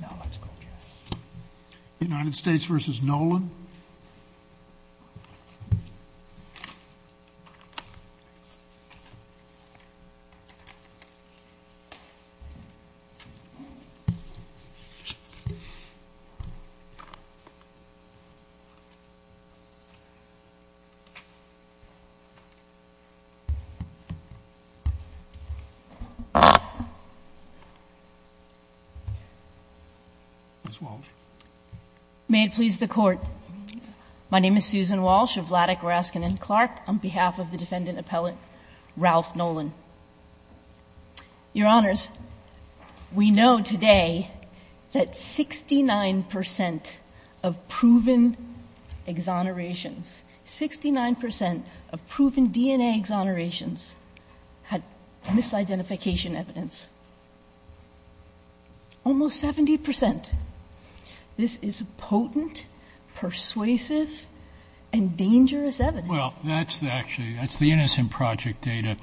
No, let's go with yes. United States v. Nolan. Ms. Walsh. May it please the Court, my name is Susan Walsh of Vladeck, Raskin & Clark on behalf of the defendant appellate, Ralph Nolan. Your Honors, we know today that 69% of proven exonerations, 69% of proven DNA exonerations had misidentification evidence. Almost 70%. This is potent, persuasive, and dangerous evidence. Well, that's actually, that's the Innocent Project data.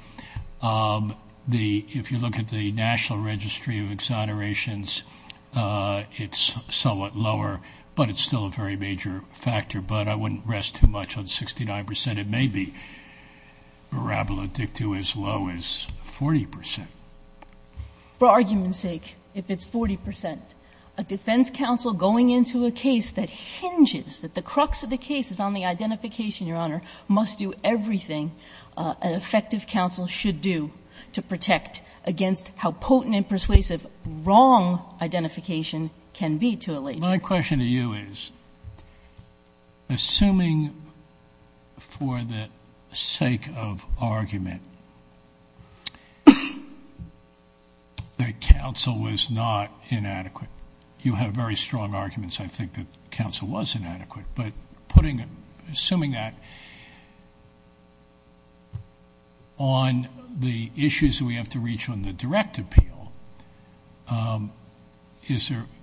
If you look at the National Registry of Exonerations, it's somewhat lower, but it's still a very major factor. But I wouldn't rest too much on 69%. But it may be parabolatic to as low as 40%. For argument's sake, if it's 40%, a defense counsel going into a case that hinges, that the crux of the case is on the identification, Your Honor, must do everything an effective counsel should do to protect against how potent and persuasive wrong identification can be to allege. My question to you is, assuming for the sake of argument that counsel was not inadequate, you have very strong arguments, I think, that counsel was inadequate. But assuming that, on the issues that we have to reach on the direct appeal,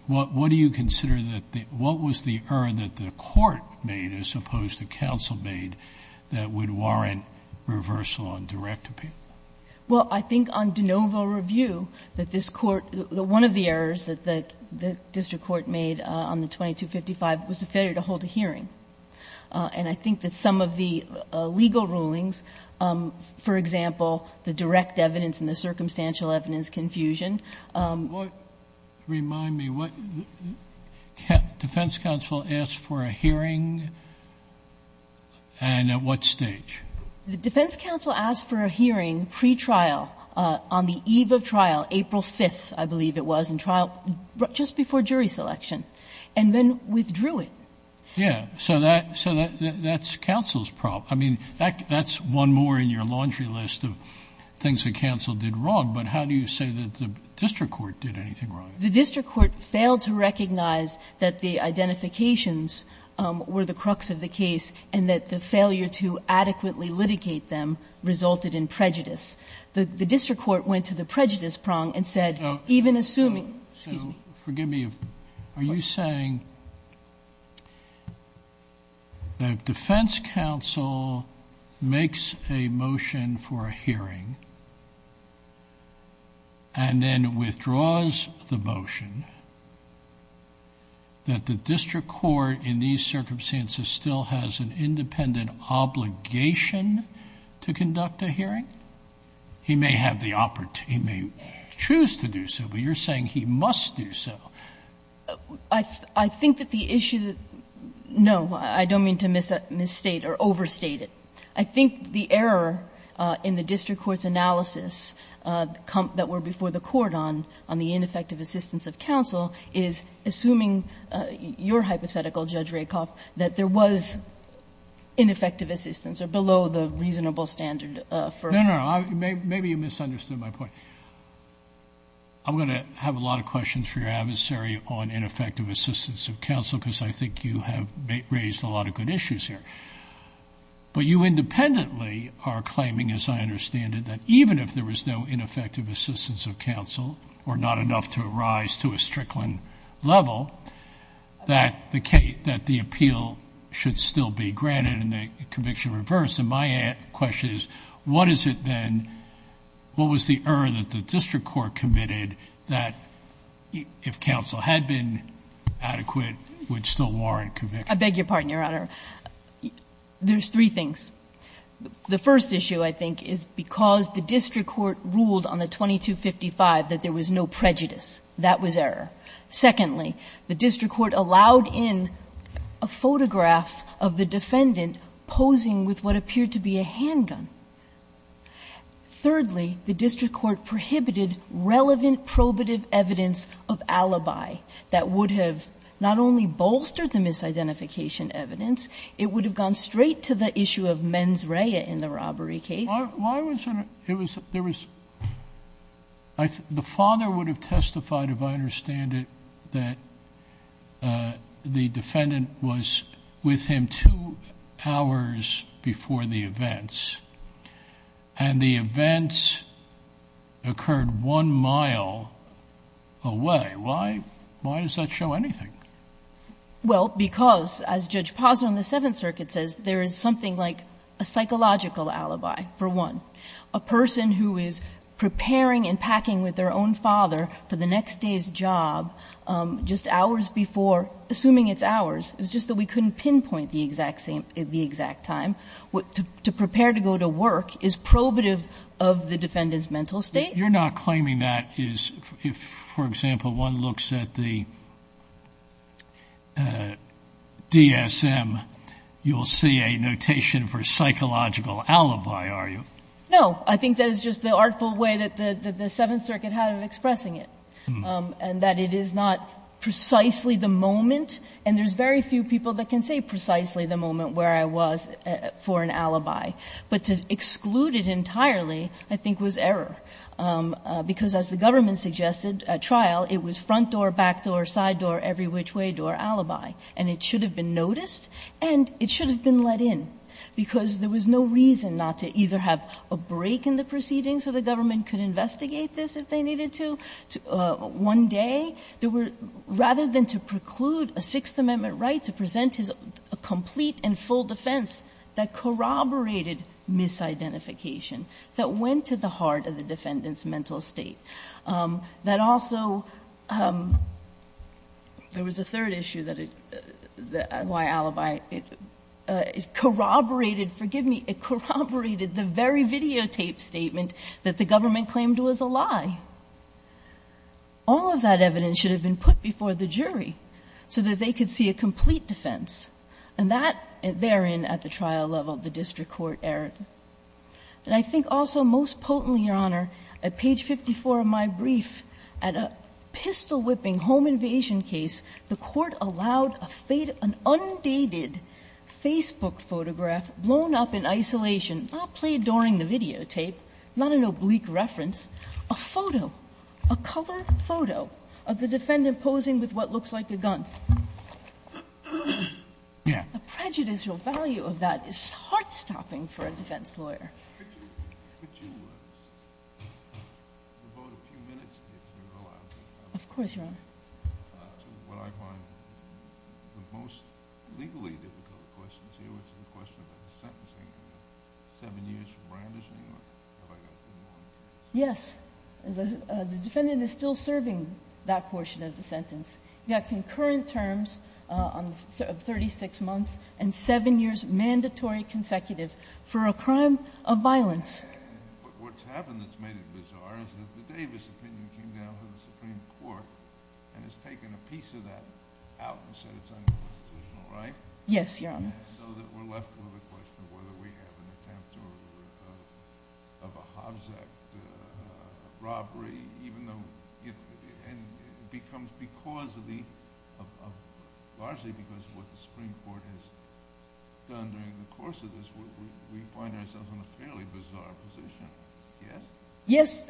what do you consider that the, what was the error that the court made, as opposed to counsel made, that would warrant reversal on direct appeal? Well, I think on de novo review, that this Court, that one of the errors that the district court made on the 2255 was a failure to hold a hearing. And I think that some of the legal rulings, for example, the direct evidence and the circumstantial evidence confusion. What, remind me, what, defense counsel asked for a hearing, and at what stage? The defense counsel asked for a hearing pre-trial, on the eve of trial, April 5th, I believe it was, in trial, just before jury selection, and then withdrew it. Yeah. So that, so that's counsel's problem. I mean, that's one more in your laundry list of things that counsel did wrong. But how do you say that the district court did anything wrong? The district court failed to recognize that the identifications were the crux of the case, and that the failure to adequately litigate them resulted in prejudice. The district court went to the prejudice prong and said, even assuming, excuse me. So forgive me, are you saying that defense counsel makes a motion for a hearing and then withdraws the motion that the district court in these circumstances still has an independent obligation to conduct a hearing? He may have the opportunity, he may choose to do so, but you're saying he must do so. I think that the issue that no, I don't mean to misstate or overstate it. I think the error in the district court's analysis that were before the court on the ineffective assistance of counsel is, assuming your hypothetical, Judge Rakoff, that there was ineffective assistance or below the reasonable standard for. No, no, maybe you misunderstood my point. I'm going to have a lot of questions for your adversary on ineffective assistance of counsel, because I think you have raised a lot of good issues here. But you independently are claiming, as I understand it, that even if there was no ineffective assistance of counsel or not enough to arise to a Strickland level, that the appeal should still be granted and the conviction reversed. And my question is, what is it then, what was the error that the district court committed that if counsel had been adequate, would still warrant conviction? I beg your pardon, Your Honor. There's three things. The first issue, I think, is because the district court ruled on the 2255 that there was no prejudice. That was error. Secondly, the district court allowed in a photograph of the defendant posing with what appeared to be a handgun. Thirdly, the district court prohibited relevant probative evidence of alibi that would have not only bolstered the misidentification evidence, it would have gone straight to the issue of mens rea in the robbery case. Why was it, it was, there was, the father would have testified, if I understand it, that the defendant was with him two hours before the events. And the events occurred one mile away. Why, why does that show anything? Well, because, as Judge Pazzo in the Seventh Circuit says, there is something like a psychological alibi, for one. A person who is preparing and packing with their own father for the next day's job, just hours before, assuming it's hours, it was just that we couldn't pinpoint the exact same, the exact time, to prepare to go to work, is probative of the defendant's mental state. But you're not claiming that is, if, for example, one looks at the DSM, you'll see a notation for psychological alibi, are you? No. I think that is just the artful way that the Seventh Circuit had of expressing it, and that it is not precisely the moment. And there's very few people that can say precisely the moment where I was for an alibi. But to exclude it entirely, I think, was error. Because, as the government suggested at trial, it was front door, back door, side door, every which way door alibi. And it should have been noticed and it should have been let in, because there was no reason not to either have a break in the proceedings so the government could investigate this if they needed to, one day. Rather than to preclude a Sixth Amendment right to present his complete and full defense that corroborated misidentification, that went to the heart of the defendant's mental state. That also, there was a third issue that it, why alibi. It corroborated, forgive me, it corroborated the very videotaped statement that the government claimed was a lie. All of that evidence should have been put before the jury so that they could see a complete defense. And that, therein, at the trial level, the district court erred. And I think also, most potently, Your Honor, at page 54 of my brief, at a pistol-whipping home invasion case, the Court allowed a faded, an undated Facebook photograph blown up in isolation, not played during the videotape, not an oblique reference, a photo, a colored photo of the defendant posing with what looks like a gun. The prejudicial value of that is heart-stopping for a defense lawyer. Could you devote a few minutes here, if you're allowed to? Of course, Your Honor. To what I find the most legally difficult questions here, which is the question about the sentencing. Seven years for Brandis, New York. Have I got three more minutes? Yes. The defendant is still serving that portion of the sentence. He got concurrent terms of 36 months and seven years mandatory consecutive for a crime of violence. But what's happened that's made it bizarre is that the Davis opinion came down to the Supreme Court and has taken a piece of that out and said it's unconstitutional, right? Yes, Your Honor. So that we're left with a question of whether we have an attempt of a Hobbs Act robbery, even though it becomes because of the, largely because of what the Supreme Court has done during the course of this, we find ourselves in a fairly bizarre position. Yes?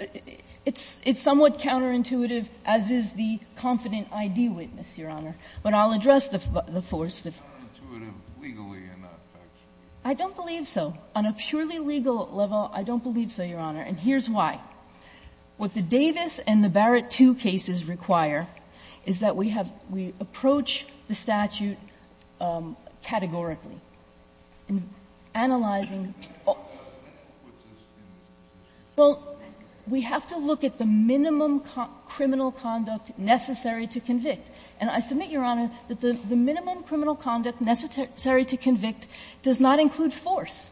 Yes. It's somewhat counterintuitive, as is the confident ID witness, Your Honor. But I'll address the force. It's not intuitive legally enough, actually. I don't believe so. On a purely legal level, I don't believe so, Your Honor. And here's why. What the Davis and the Barrett II cases require is that we have, we approach the statute categorically, analyzing all. Well, we have to look at the minimum criminal conduct necessary to convict. And I submit, Your Honor, that the minimum criminal conduct necessary to convict does not include force.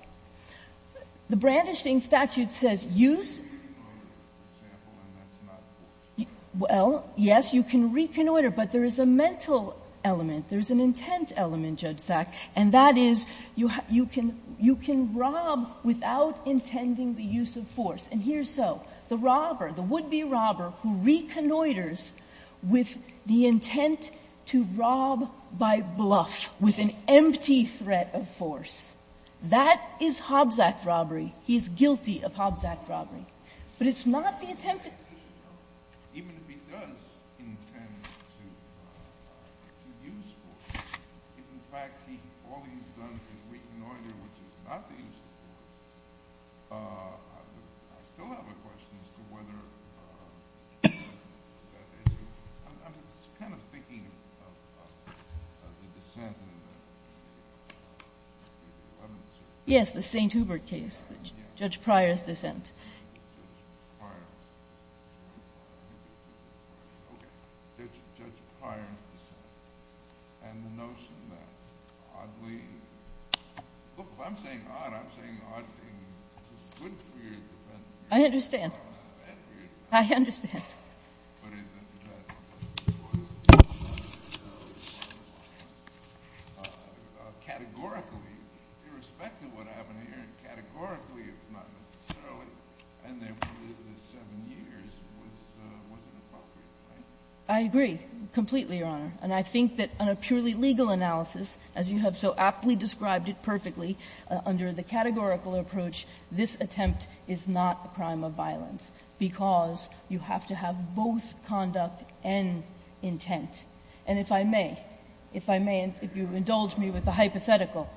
The Brandenstein statute says use. You can reconnoiter, for example, and that's not force. Well, yes, you can reconnoiter. But there is a mental element. There's an intent element, Judge Sack. And that is, you can rob without intending the use of force. And here's so. The robber, the would-be robber, who reconnoiters with the intent to rob by bluff, with an empty threat of force. That is Hobbs Act robbery. He's guilty of Hobbs Act robbery. But it's not the intent. Even if he does intend to use force, if in fact all he's done is reconnoiter, which is not the use of force, I still have a question as to whether that is. I'm kind of thinking of the dissent in the evidence. Yes, the St. Hubert case. Judge Pryor's dissent. Judge Pryor's dissent. Okay. Judge Pryor's dissent. And the notion that oddly. Look, if I'm saying odd, I'm saying odd because it's good for you, it's bad for you. I understand. It's bad for you. I understand. I agree completely, Your Honor. And I think that on a purely legal analysis, as you have so aptly described it perfectly, under the categorical approach, this attempt is not a crime of violence because you have to have both conduct and intent. And if I may, if I may, if you indulge me with a hypothetical,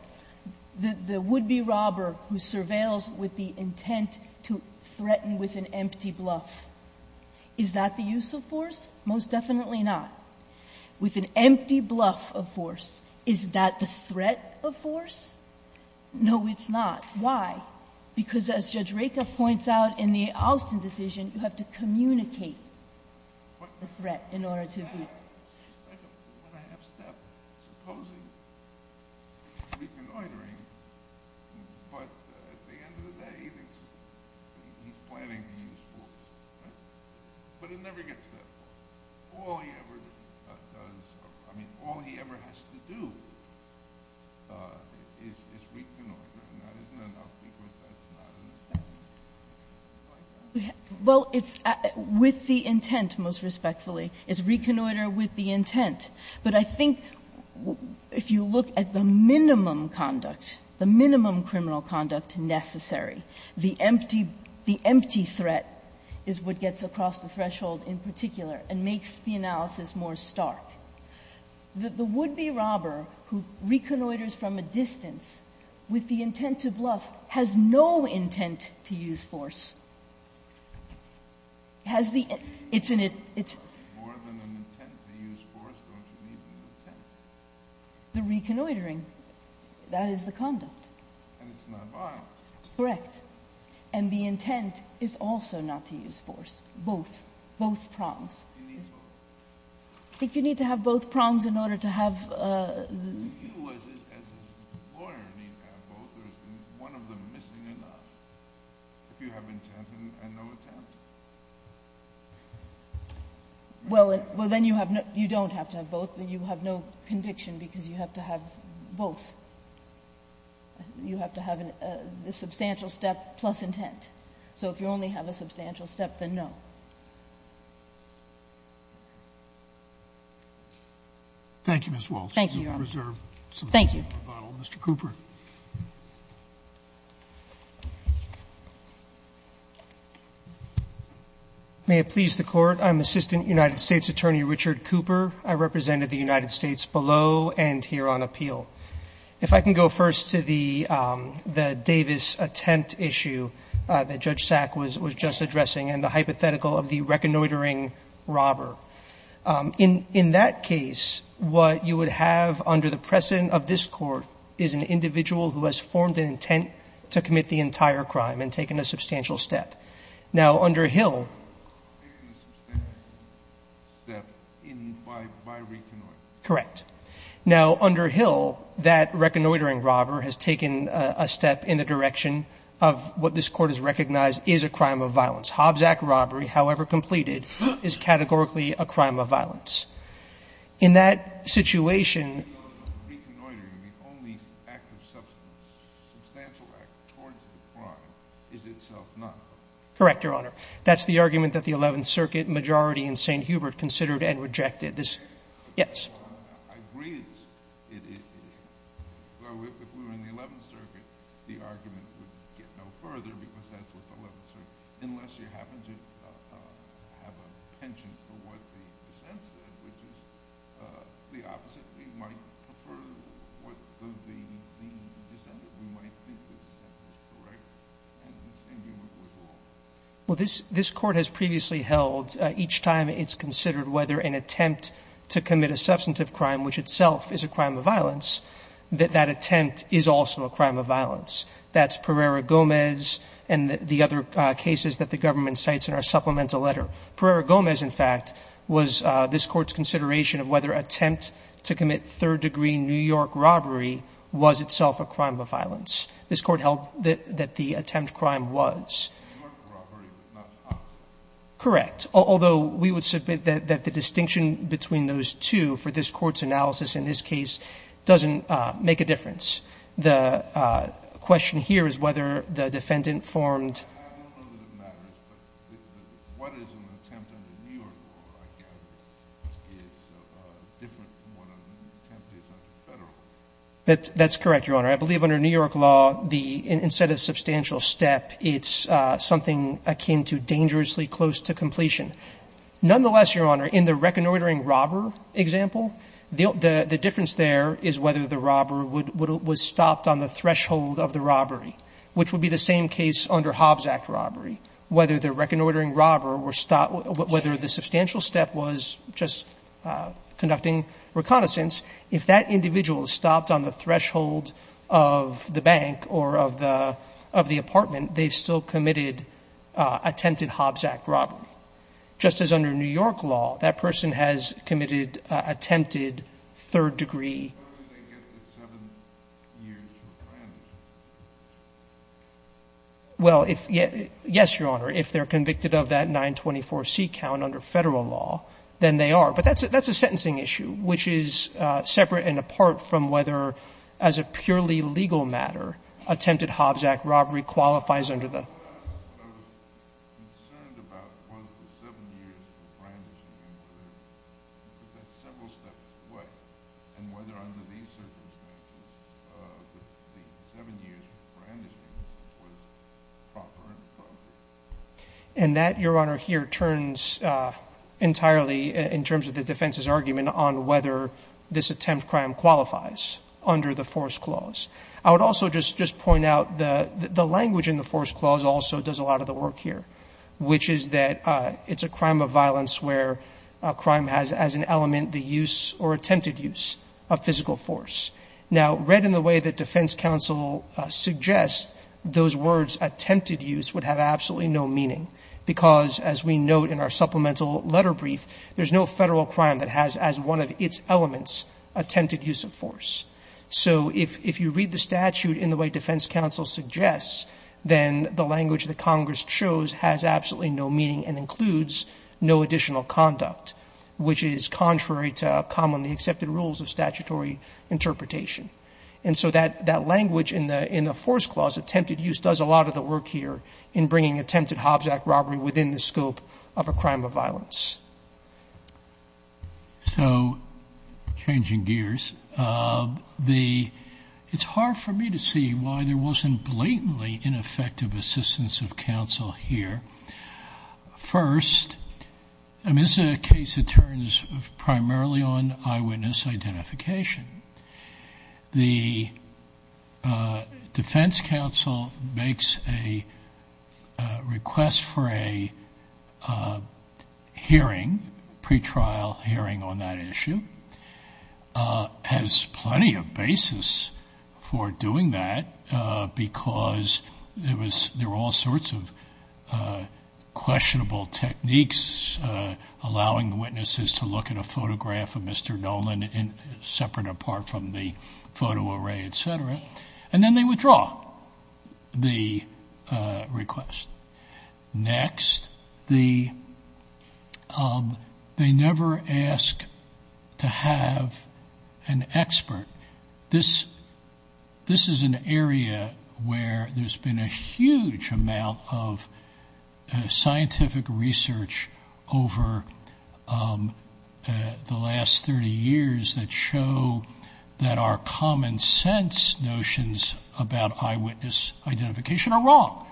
the would-be robber who surveils with the intent to threaten with an empty bluff, is that the use of force? Most definitely not. With an empty bluff of force, is that the threat of force? No, it's not. Why? Because as Judge Rekha points out in the Austin decision, you have to communicate the threat in order to be. That's a one-and-a-half step. Supposing he's reconnoitering, but at the end of the day, he's planning to use force. Right? But he never gets that far. All he ever does, I mean, all he ever has to do is reconnoiter. Well, it's with the intent, most respectfully. It's reconnoiter with the intent. But I think if you look at the minimum conduct, the minimum criminal conduct necessary, the empty threat is what gets across the threshold in particular and makes the analysis more stark. The would-be robber who reconnoiters from a distance with the intent to bluff has no intent to use force. The reconnoitering, that is the conduct. Correct. And the intent is also not to use force. Both. Both prongs. He needs both. If you need to have both prongs in order to have— Do you, as a lawyer, need to have both, or is one of them missing or not, if you have intent and no attempt? Well, then you don't have to have both. You have no conviction because you have to have both. You have to have the substantial step plus intent. So if you only have a substantial step, then no. Thank you, Ms. Walts. Thank you, Your Honor. Thank you. Mr. Cooper. May it please the Court, I'm Assistant United States Attorney Richard Cooper. I represented the United States below and here on appeal. If I can go first to the Davis attempt issue that Judge Sack was just addressing and the hypothetical of the reconnoitering robber, in that case what you would have under the precedent of this Court is an individual who has formed an intent to commit the entire crime and taken a substantial step. Now, under Hill— Taken a substantial step by reconnoitering. Correct. Now, under Hill, that reconnoitering robber has taken a step in the direction of what this Court has recognized is a crime of violence. Hobbs Act robbery, however completed, is categorically a crime of violence. In that situation— Reconnoitering, the only act of substance, substantial act towards the crime, is itself not a crime. Correct, Your Honor. That's the argument that the Eleventh Circuit majority in St. Hubert considered and rejected. This— Yes. I agree it is. If we were in the Eleventh Circuit, the argument would get no further because that's what the Eleventh Circuit—unless you happen to have a penchant for what the dissent said, which is the opposite. We might prefer what the dissent—we might think the dissent is correct and the same humor goes along. Well, this Court has previously held each time it's considered whether an attempt to commit a substantive crime, which itself is a crime of violence, that that attempt is also a crime of violence. That's Pereira-Gomez and the other cases that the government cites in our supplemental letter. Pereira-Gomez, in fact, was this Court's consideration of whether an attempt to commit third-degree New York robbery was itself a crime of violence. This Court held that the attempt crime was. New York robbery was not a crime of violence. Correct. Although we would submit that the distinction between those two for this Court's analysis in this case doesn't make a difference. The question here is whether the defendant formed— I don't know that it matters, but what is an attempt under New York law, I gather, is different from what an attempt is under Federal law. That's correct, Your Honor. I believe under New York law, instead of substantial step, it's something akin to dangerously close to completion. Nonetheless, Your Honor, in the reconnoitering robber example, the difference there is whether the robber was stopped on the threshold of the robbery, which would be the same case under Hobbs Act robbery. Whether the reconnoitering robber was—whether the substantial step was just conducting reconnaissance, if that individual stopped on the threshold of the bank or of the apartment, they've still committed attempted Hobbs Act robbery. Just as under New York law, that person has committed attempted third-degree robbery. But how do they get the 7 years for frandishing? Well, if — yes, Your Honor, if they're convicted of that 924C count under Federal law, then they are. But that's a sentencing issue, which is separate and apart from whether, as a purely legal matter, attempted Hobbs Act robbery qualifies under the— Well, what I was concerned about was the 7 years for frandishing and whether that's several steps away. And whether under these circumstances, the 7 years for frandishing was proper and appropriate. And that, Your Honor, here turns entirely in terms of the defense's argument on whether this attempt crime qualifies under the force clause. I would also just point out the language in the force clause also does a lot of the work here, which is that it's a crime of violence where a crime has as an element the use or attempted use of physical force. Now, read in the way that defense counsel suggests, those words, attempted use, would have absolutely no meaning because, as we note in our supplemental letter brief, there's no Federal crime that has as one of its elements attempted use of force. So if you read the statute in the way defense counsel suggests, then the language that Congress chose has absolutely no meaning and includes no additional conduct, which is contrary to commonly accepted rules of statutory interpretation. And so that language in the force clause, attempted use, does a lot of the work here in bringing attempted Hobbs Act robbery within the scope of a crime of violence. So, changing gears, it's hard for me to see why there wasn't blatantly ineffective assistance of counsel here. First, I mean, this is a case that turns primarily on eyewitness identification. The defense counsel makes a request for a hearing of the defense counsel's hearing, pretrial hearing on that issue, has plenty of basis for doing that because there were all sorts of questionable techniques, allowing witnesses to look at a photograph of Mr. Nolan separate apart from the photo array, et cetera, and then they withdraw the request. Next, they never ask to have an expert. This is an area where there's been a huge amount of scientific research over the last 30 years that show that our common sense notions about eyewitness identification are wrong,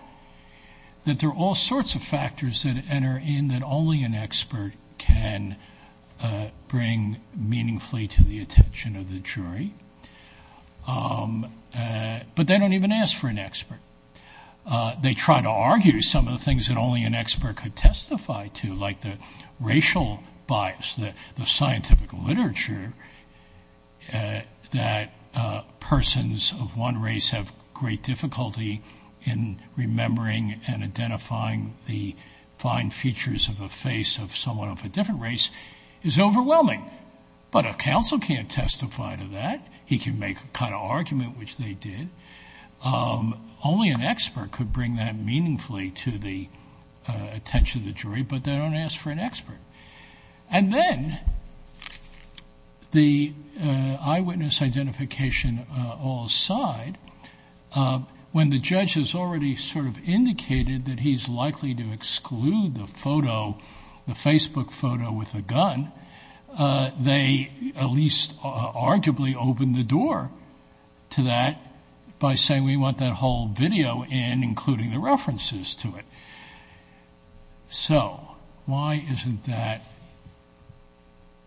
that there are all sorts of factors that enter in that only an expert can bring meaningfully to the attention of the jury, but they don't even ask for an expert. They try to argue some of the things that only an expert could testify to, like the difficulty in remembering and identifying the fine features of a face of someone of a different race is overwhelming, but a counsel can't testify to that. He can make a kind of argument, which they did. Only an expert could bring that meaningfully to the attention of the jury, but they don't ask for an expert. And then the eyewitness identification all side, when the judge has already sort of indicated that he's likely to exclude the photo, the Facebook photo with a gun, they at least arguably open the door to that by saying we want that whole video in, including the references to it. So why isn't that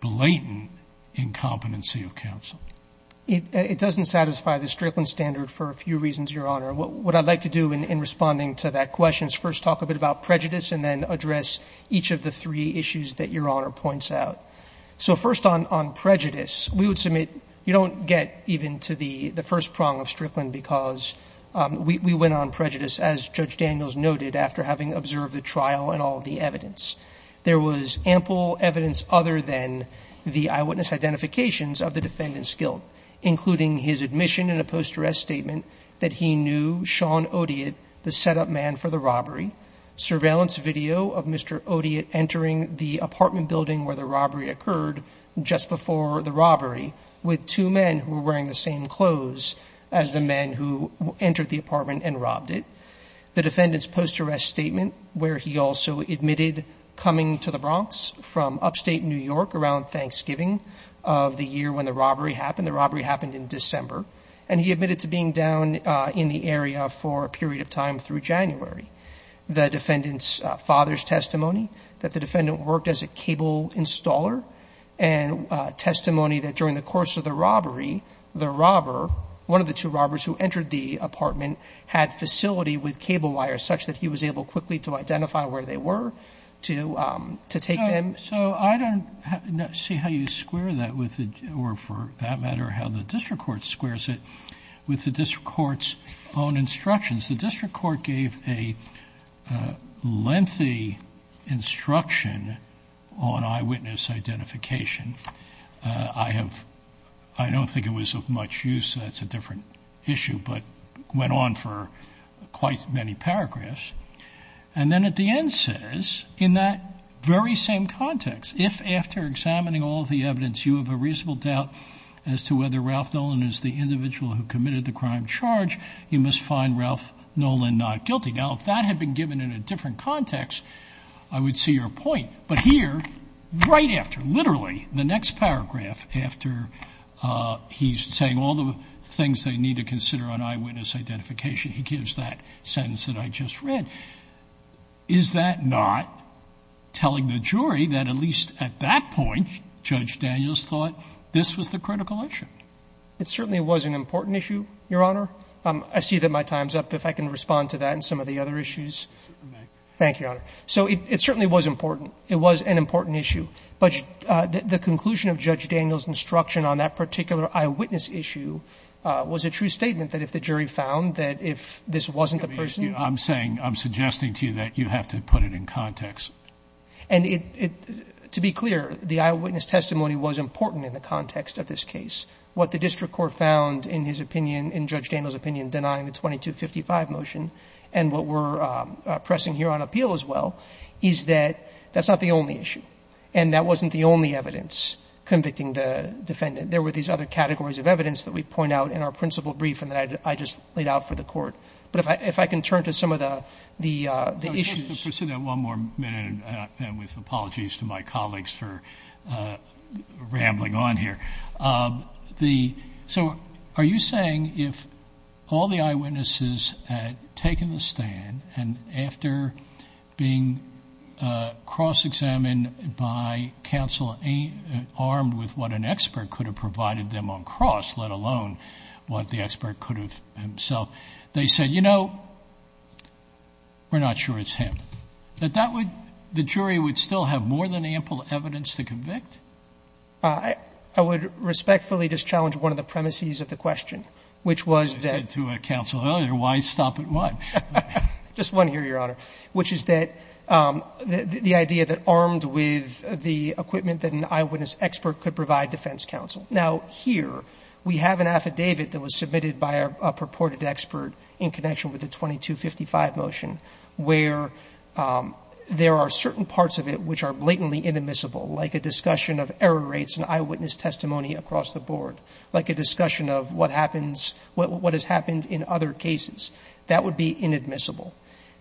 blatant incompetency of counsel? It doesn't satisfy the Strickland standard for a few reasons, Your Honor. What I'd like to do in responding to that question is first talk a bit about prejudice and then address each of the three issues that Your Honor points out. So first on prejudice, we would submit, you don't get even to the first prong of Strickland because we went on prejudice, as Judge Daniels noted, after having observed the trial and all of the evidence. There was ample evidence other than the eyewitness identifications of the defendant's guilt, including his admission in a post-arrest statement that he knew Sean Odiot, the defendant's father's testimony that the defendant worked as a cable installer and that he had been in the area for a period of time before the robbery occurred just before the robbery, with two men who were wearing the same clothes as the men who entered the apartment and robbed it. The defendant's post-arrest statement where he also admitted coming to the Bronx from upstate New York around $1,000 and testimony that during the course of the robbery, the robber, one of the two robbers who entered the apartment had facility with cable wires such that he was able quickly to identify where they were to take them. So I don't see how you square that, or for that matter how the district court squares it, with the district court's own instructions. The district court gave a lengthy instruction on eyewitness identification. I don't think it was of much use, so that's a different issue, but went on for quite many paragraphs. And then at the end says, in that very same context, if after examining all of the evidence you have a reasonable doubt as to whether Ralph Nolan is the individual who committed the crime charge, you must find Ralph Nolan not guilty. Now, if that had been given in a different context, I would see your point. But here, right after, literally the next paragraph after he's saying all the things they need to consider on eyewitness identification, he gives that sentence that I just read. Is that not telling the jury that at least at that point Judge Daniels thought this was the critical issue? It certainly was an important issue, Your Honor. I see that my time's up. If I can respond to that and some of the other issues. Thank you, Your Honor. So it certainly was important. It was an important issue. But the conclusion of Judge Daniels' instruction on that particular eyewitness issue was a true statement that if the jury found that if this wasn't the person. I'm saying, I'm suggesting to you that you have to put it in context. And to be clear, the eyewitness testimony was important in the context of this case. What the district court found in his opinion, in Judge Daniels' opinion, denying the 2255 motion, and what we're pressing here on appeal as well, is that that's not the only issue. And that wasn't the only evidence convicting the defendant. There were these other categories of evidence that we point out in our principal brief and that I just laid out for the court. But if I can turn to some of the issues. Just to pursue that one more minute, and with apologies to my colleagues for rambling on here. So are you saying if all the eyewitnesses had taken the stand and after being cross-examined by counsel armed with what an expert could have provided them on cross, let alone what the expert could have himself, they said, you know, we're not sure it's him, that that would, the jury would still have more than ample evidence to convict? I would respectfully just challenge one of the premises of the question, which was that. I said to a counsel earlier, why stop at one? Just one here, Your Honor, which is that the idea that armed with the equipment that an eyewitness expert could provide defense counsel. Now, here, we have an affidavit that was submitted by a purported expert in connection with the 2255 motion, where there are certain parts of it which are blatantly inadmissible, like a discussion of error rates and eyewitness testimony across the board, like a discussion of what happens, what has happened in other cases. That would be inadmissible.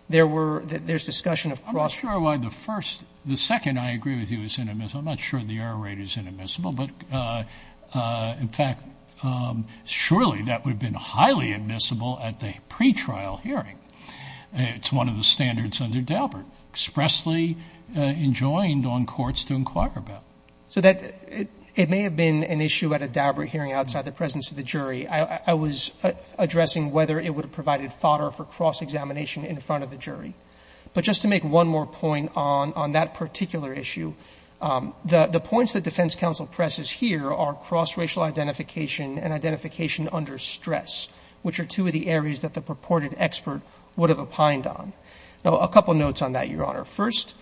There's discussion of cross-examination. That's why the first, the second I agree with you is inadmissible. I'm not sure the error rate is inadmissible, but in fact, surely that would have been highly admissible at the pretrial hearing. It's one of the standards under Daubert, expressly enjoined on courts to inquire about. So that, it may have been an issue at a Daubert hearing outside the presence of the jury. I was addressing whether it would have provided fodder for cross-examination in front of the jury. But just to make one more point on that particular issue, the points that defense counsel presses here are cross-racial identification and identification under stress, which are two of the areas that the purported expert would have opined on. Now, a couple notes on that, Your Honor. First,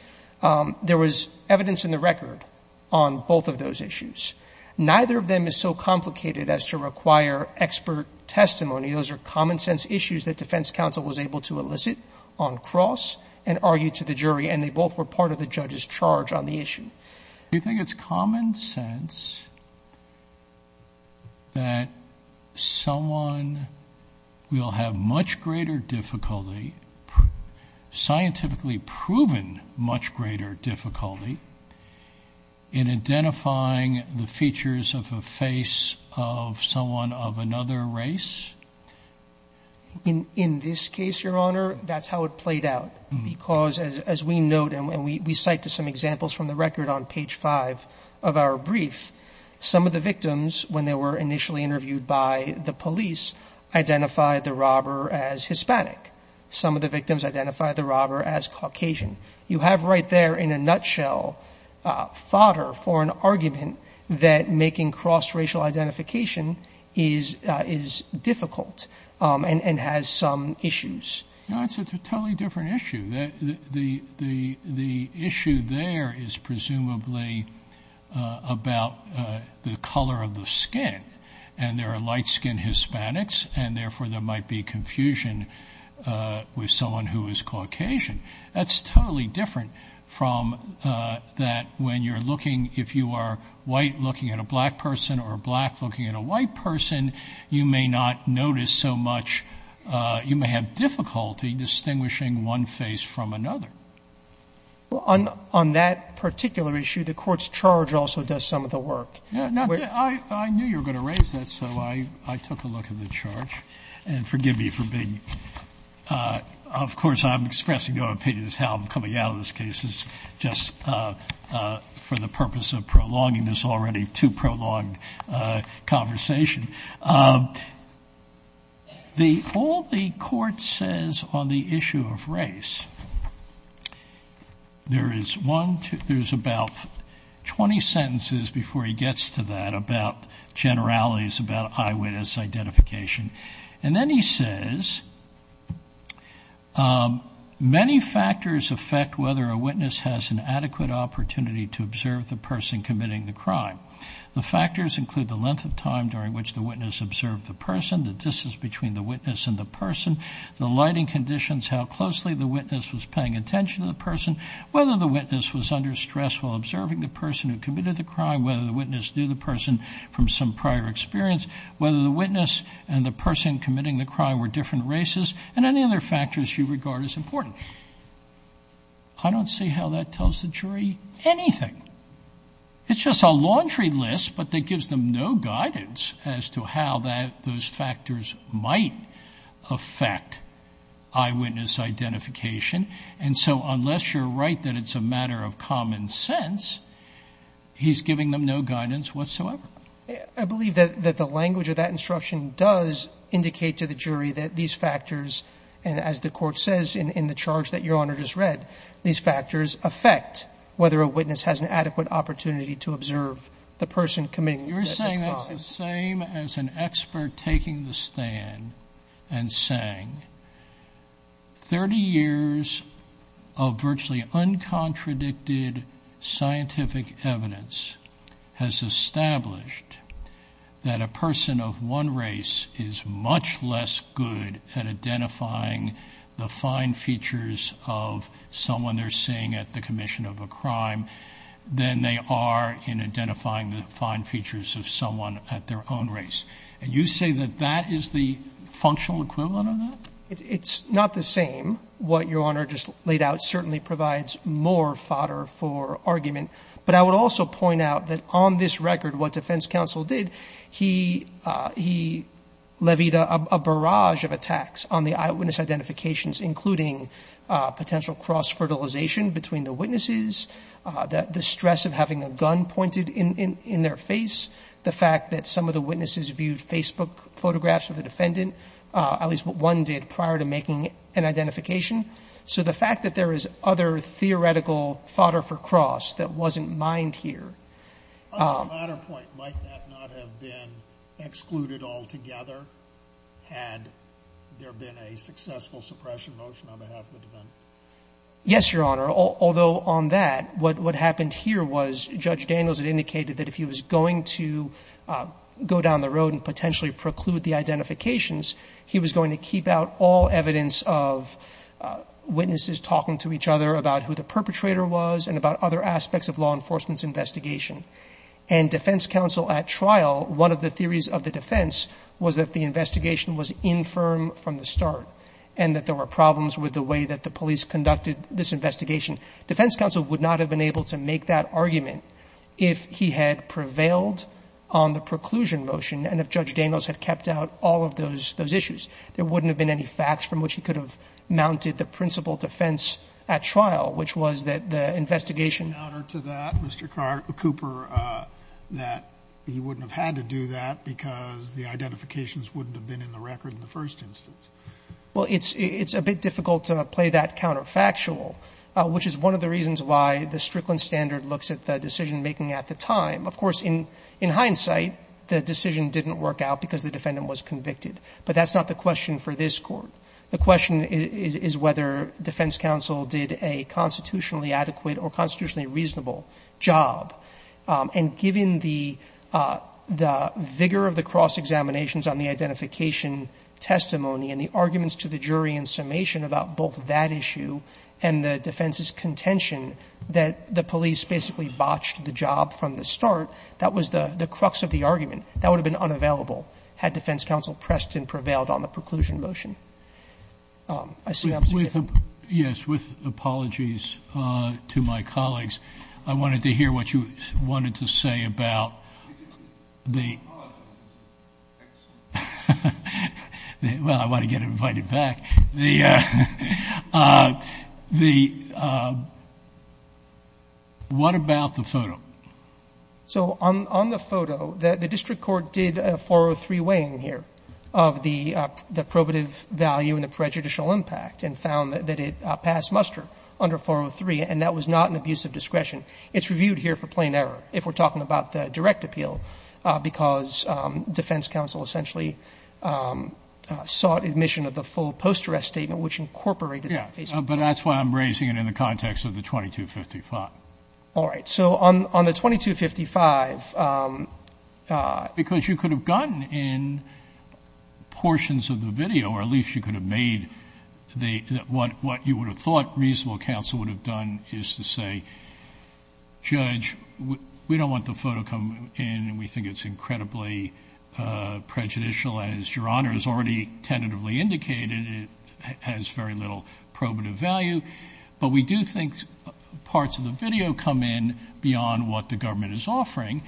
there was evidence in the record on both of those issues. Neither of them is so complicated as to require expert testimony. Those are common sense issues that defense counsel was able to elicit on cross and argue to the jury, and they both were part of the judge's charge on the issue. Do you think it's common sense that someone will have much greater difficulty, scientifically proven much greater difficulty, in identifying the features of a race? In this case, Your Honor, that's how it played out. Because, as we note, and we cite to some examples from the record on page 5 of our brief, some of the victims, when they were initially interviewed by the police, identified the robber as Hispanic. Some of the victims identified the robber as Caucasian. You have right there, in a nutshell, fodder for an argument that making cross-racial identification is difficult and has some issues. No, it's a totally different issue. The issue there is presumably about the color of the skin. And there are light-skinned Hispanics, and therefore there might be confusion with someone who is Caucasian. That's totally different from that when you're looking, if you are white looking at a black person or black looking at a white person, you may not notice so much — you may have difficulty distinguishing one face from another. Well, on that particular issue, the Court's charge also does some of the work. I knew you were going to raise that, so I took a look at the charge. And forgive me for being — of course, I'm expressing no opinion as to how I'm coming out of this case, just for the purpose of prolonging this already too-prolonged conversation. All the Court says on the issue of race, there's about 20 sentences before he gets to that about generalities about eyewitness identification. And then he says, many factors affect whether a witness has an adequate opportunity to observe the person committing the crime. The factors include the length of time during which the witness observed the person, the distance between the witness and the person, the lighting conditions, how closely the witness was paying attention to the person, whether the witness was under stress while observing the person who committed the crime, whether the witness knew the person from some prior experience, whether the witness and the person committing the crime were different races, and any other factors you regard as important. I don't see how that tells the jury anything. It's just a laundry list, but that gives them no guidance as to how those factors might affect eyewitness identification. And so unless you're right that it's a matter of common sense, he's giving them no guidance whatsoever. I believe that the language of that instruction does indicate to the jury that these factors, and as the Court says in the charge that Your Honor just read, these factors affect whether a witness has an adequate opportunity to observe the person committing the crime. You're saying that's the same as an expert taking the stand and saying, 30 years of virtually uncontradicted scientific evidence has established that a person of one race is much less good at identifying the fine features of someone they're seeing at the commission of a crime than they are in identifying the fine features of someone at their own race. And you say that that is the functional equivalent of that? It's not the same. What Your Honor just laid out certainly provides more fodder for argument. But I would also point out that on this record, what defense counsel did, he levied a barrage of attacks on the eyewitness identifications, including potential cross-fertilization between the witnesses, the stress of having a gun pointed in their face, the fact that some of the witnesses viewed Facebook photographs of the defendant, at least what one did prior to making an identification. So the fact that there is other theoretical fodder for cross that wasn't mined here. On the latter point, might that not have been excluded altogether, had there been a successful suppression motion on behalf of the defendant? Yes, Your Honor. Although on that, what happened here was Judge Daniels had indicated that if he was going to go down the road and potentially preclude the identifications, he was going to keep out all evidence of witnesses talking to each other about who the perpetrator was and about other aspects of law enforcement's investigation. And defense counsel at trial, one of the theories of the defense was that the investigation was infirm from the start and that there were problems with the way that the police conducted this investigation. Defense counsel would not have been able to make that argument if he had prevailed on the preclusion motion and if Judge Daniels had kept out all of those issues. There wouldn't have been any facts from which he could have mounted the principal defense at trial, which was that the investigation. In honor to that, Mr. Cooper, that he wouldn't have had to do that because the identifications wouldn't have been in the record in the first instance. Well, it's a bit difficult to play that counterfactual, which is one of the reasons why the Strickland standard looks at the decisionmaking at the time. Of course, in hindsight, the decision didn't work out because the defendant was convicted. But that's not the question for this Court. The question is whether defense counsel did a constitutionally adequate or constitutionally reasonable job. And given the vigor of the cross-examinations on the identification testimony and the arguments to the jury in summation about both that issue and the defense's contention that the police basically botched the job from the start, that was the crux of the argument. That would have been unavailable had defense counsel pressed and prevailed on the preclusion motion. I see observation. Yes. With apologies to my colleagues, I wanted to hear what you wanted to say about the Well, I want to get invited back. What about the photo? So on the photo, the district court did a 403 weighing here of the probative value and the prejudicial impact, and found that it passed muster under 403. And that was not an abuse of discretion. It's reviewed here for plain error, if we're talking about the direct appeal, because defense counsel essentially sought admission of the full post-arrest statement, which incorporated that. But that's why I'm raising it in the context of the 2255. All right. So on the 2255, because you could have gotten in portions of the video, or at least you could have made what you would have thought reasonable counsel would have done is to say, judge, we don't want the photo to come in, and we think it's incredibly prejudicial. And as Your Honor has already tentatively indicated, it has very little probative value. But we do think parts of the video come in beyond what the government is offering,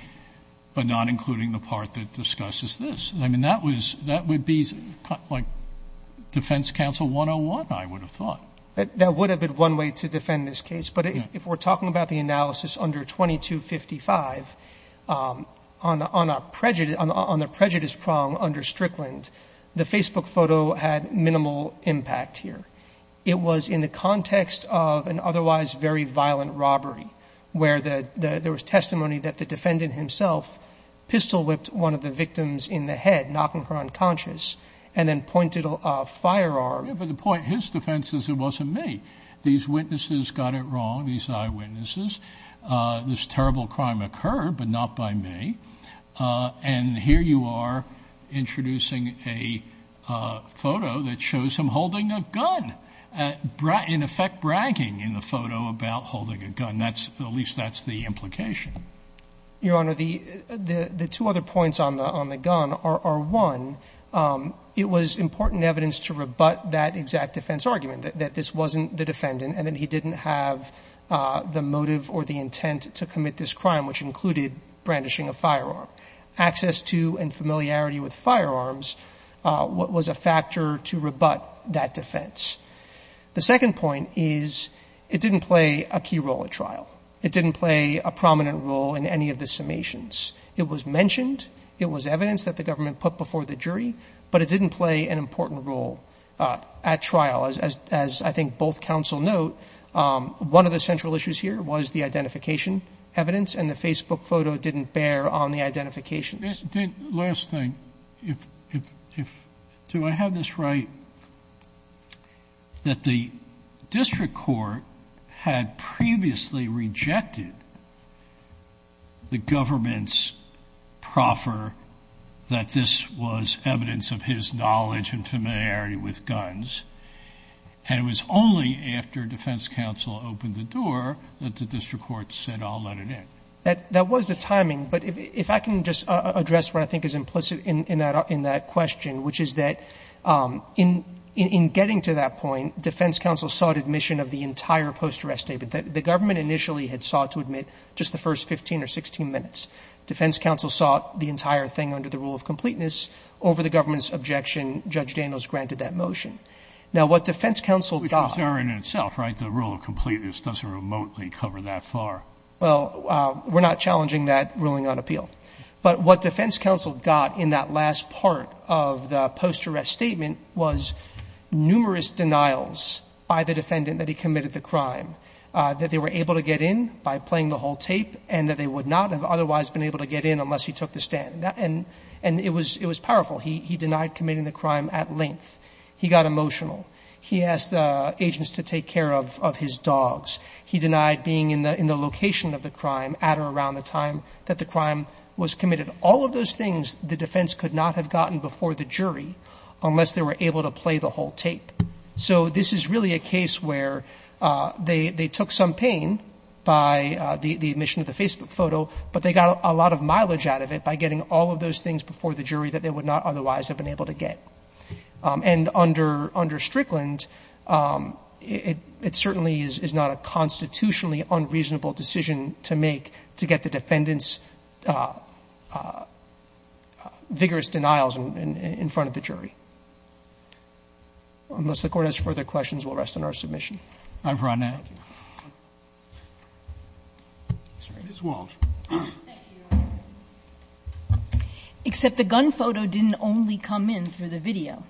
but not including the part that discusses this. I mean, that would be like defense counsel 101, I would have thought. That would have been one way to defend this case. But if we're talking about the analysis under 2255, on the prejudice prong under Strickland, the Facebook photo had minimal impact here. It was in the context of an otherwise very violent robbery, where there was testimony that the defendant himself pistol whipped one of the victims in the head, knocking her unconscious, and then pointed a firearm. But the point, his defense is it wasn't me. These witnesses got it wrong, these eyewitnesses. This terrible crime occurred, but not by me. And here you are introducing a photo that shows him holding a gun, in effect bragging in the photo about holding a gun. And that's, at least that's the implication. Your Honor, the two other points on the gun are, one, it was important evidence to rebut that exact defense argument, that this wasn't the defendant, and that he didn't have the motive or the intent to commit this crime, which included brandishing a firearm. Access to and familiarity with firearms was a factor to rebut that defense. The second point is it didn't play a key role at trial. It didn't play a prominent role in any of the summations. It was mentioned, it was evidence that the government put before the jury, but it didn't play an important role at trial. As I think both counsel note, one of the central issues here was the identification evidence, and the Facebook photo didn't bear on the identifications. The last thing, do I have this right, that the district court had previously rejected the government's proffer that this was evidence of his knowledge and familiarity with guns, and it was only after defense counsel opened the door that the district court said, I'll let it in? That was the timing, but if I can just address what I think is implicit in that question, which is that in getting to that point, defense counsel sought admission of the entire post-arrest statement. The government initially had sought to admit just the first 15 or 16 minutes. Defense counsel sought the entire thing under the rule of completeness. Over the government's objection, Judge Daniels granted that motion. Now, what defense counsel got. Which is error in itself, right? The rule of completeness doesn't remotely cover that far. Well, we're not challenging that ruling on appeal. But what defense counsel got in that last part of the post-arrest statement was numerous denials by the defendant that he committed the crime, that they were able to get in by playing the whole tape, and that they would not have otherwise been able to get in unless he took the stand. And it was powerful. He denied committing the crime at length. He got emotional. He asked the agents to take care of his dogs. He denied being in the location of the crime at or around the time that the crime was committed. All of those things, the defense could not have gotten before the jury unless they were able to play the whole tape. So this is really a case where they took some pain by the admission of the Facebook photo, but they got a lot of mileage out of it by getting all of those things before the jury that they would not otherwise have been able to get. And under Strickland, it certainly is not a constitutionally unreasonable decision to make to get the defendant's vigorous denials in front of the jury. Unless the Court has further questions, we'll rest on our submission. Roberts. Thank you. Ms. Walsh. Thank you, Your Honor. Except the gun photo didn't only come in through the video.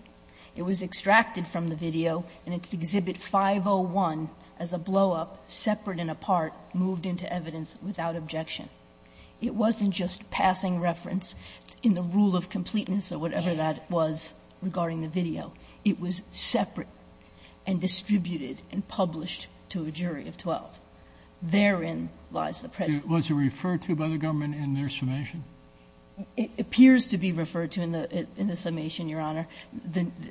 It was extracted from the video in its Exhibit 501 as a blow-up, separate and apart, moved into evidence without objection. It wasn't just passing reference in the rule of completeness or whatever that was regarding the video. It was separate and distributed and published to a jury of 12. Therein lies the prejudice. Was it referred to by the government in their summation? It appears to be referred to in the summation, Your Honor.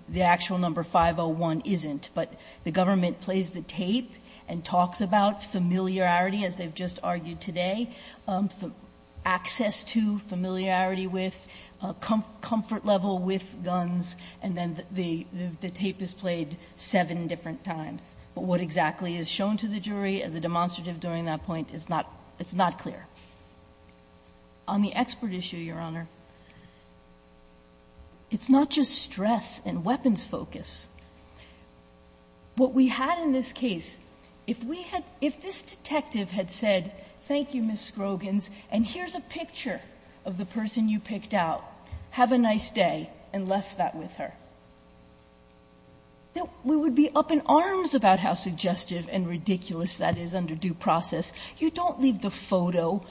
The actual number 501 isn't, but the government plays the tape and talks about familiarity, as they've just argued today, access to, familiarity with, comfort level with guns, and then the tape is played seven different times. But what exactly is shown to the jury as a demonstrative during that point is not clear. On the expert issue, Your Honor, it's not just stress and weapons focus. What we had in this case, if this detective had said, thank you, Ms. Scroggins, and here's a picture of the person you picked out, have a nice day, and left that with her, we would be up in arms about how suggestive and ridiculous that is under due process. You don't leave the photo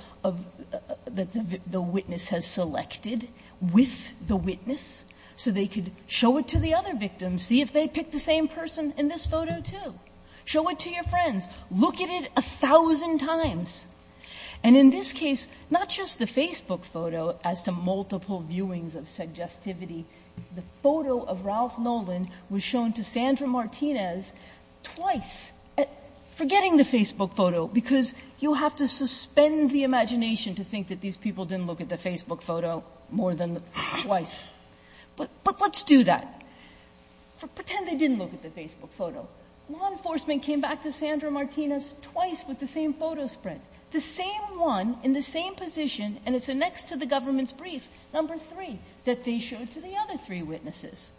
that the witness has selected with the witness so they could show it to the other victim, see if they picked the same person in this photo too. Show it to your friends. Look at it a thousand times. And in this case, not just the Facebook photo as to multiple viewings of suggestivity, the photo of Ralph Nolan was shown to Sandra Martinez twice. Forgetting the Facebook photo, because you have to suspend the imagination to think that these people didn't look at the Facebook photo more than twice. But let's do that. Pretend they didn't look at the Facebook photo. Law enforcement came back to Sandra Martinez twice with the same photo spread. The same one in the same position, and it's next to the government's brief, number three, that they showed to the other three witnesses.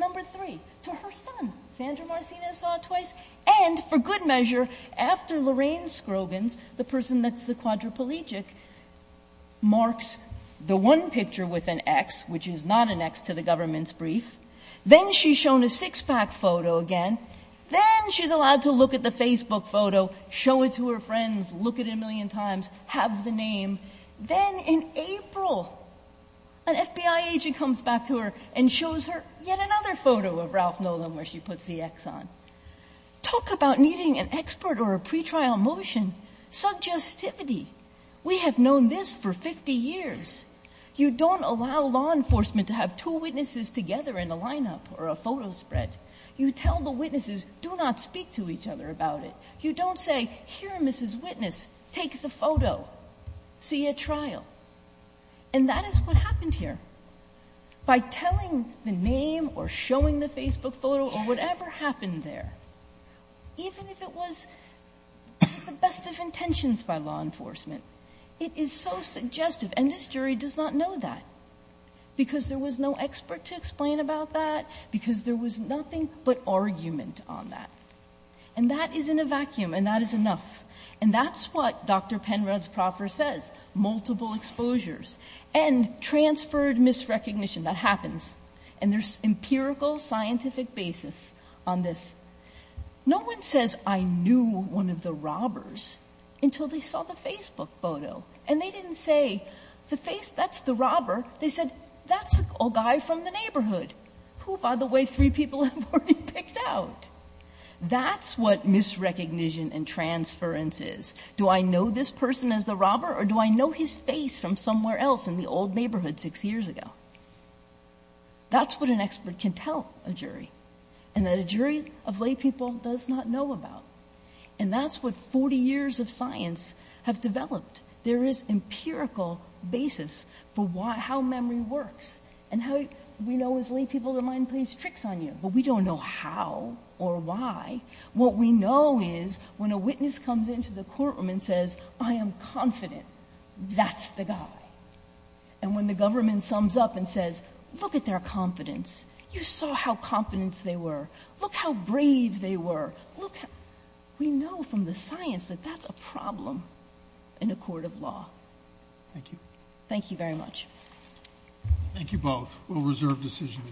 Number three, to her son. Sandra Martinez saw it twice. And for good measure, after Lorraine Scroggins, the person that's the quadriplegic, marks the one picture with an X, which is not an X to the government's brief, then she's shown a six-pack photo again. Then she's allowed to look at the Facebook photo, show it to her friends, look at it a million times, have the name. Then in April, an FBI agent comes back to her and shows her yet another photo of Ralph Nolan where she puts the X on. Talk about needing an expert or a pretrial motion. Suggestivity. We have known this for 50 years. You don't allow law enforcement to have two witnesses together in a lineup or a photo spread. You tell the witnesses, do not speak to each other about it. You don't say, here, Mrs. Witness, take the photo. See you at trial. And that is what happened here. By telling the name or showing the Facebook photo or whatever happened there, even if it was the best of intentions by law enforcement, it is so suggestive. And this jury does not know that because there was no expert to explain about that, because there was nothing but argument on that. And that is in a vacuum and that is enough. And that's what Dr. Penrod's proffer says, multiple exposures and transferred misrecognition. That happens. And there's empirical scientific basis on this. No one says, I knew one of the robbers until they saw the Facebook photo. And they didn't say, that's the robber. They said, that's a guy from the neighborhood who, by the way, three people have already freaked out. That's what misrecognition and transference is. Do I know this person as the robber or do I know his face from somewhere else in the old neighborhood six years ago? That's what an expert can tell a jury. And that a jury of laypeople does not know about. And that's what 40 years of science have developed. There is empirical basis for how memory works. And how we know as laypeople the mind plays tricks on you. But we don't know how or why. What we know is when a witness comes into the courtroom and says, I am confident, that's the guy. And when the government sums up and says, look at their confidence. You saw how confident they were. Look how brave they were. We know from the science that that's a problem in a court of law. Thank you. Thank you very much. Thank you both. We'll reserve decision.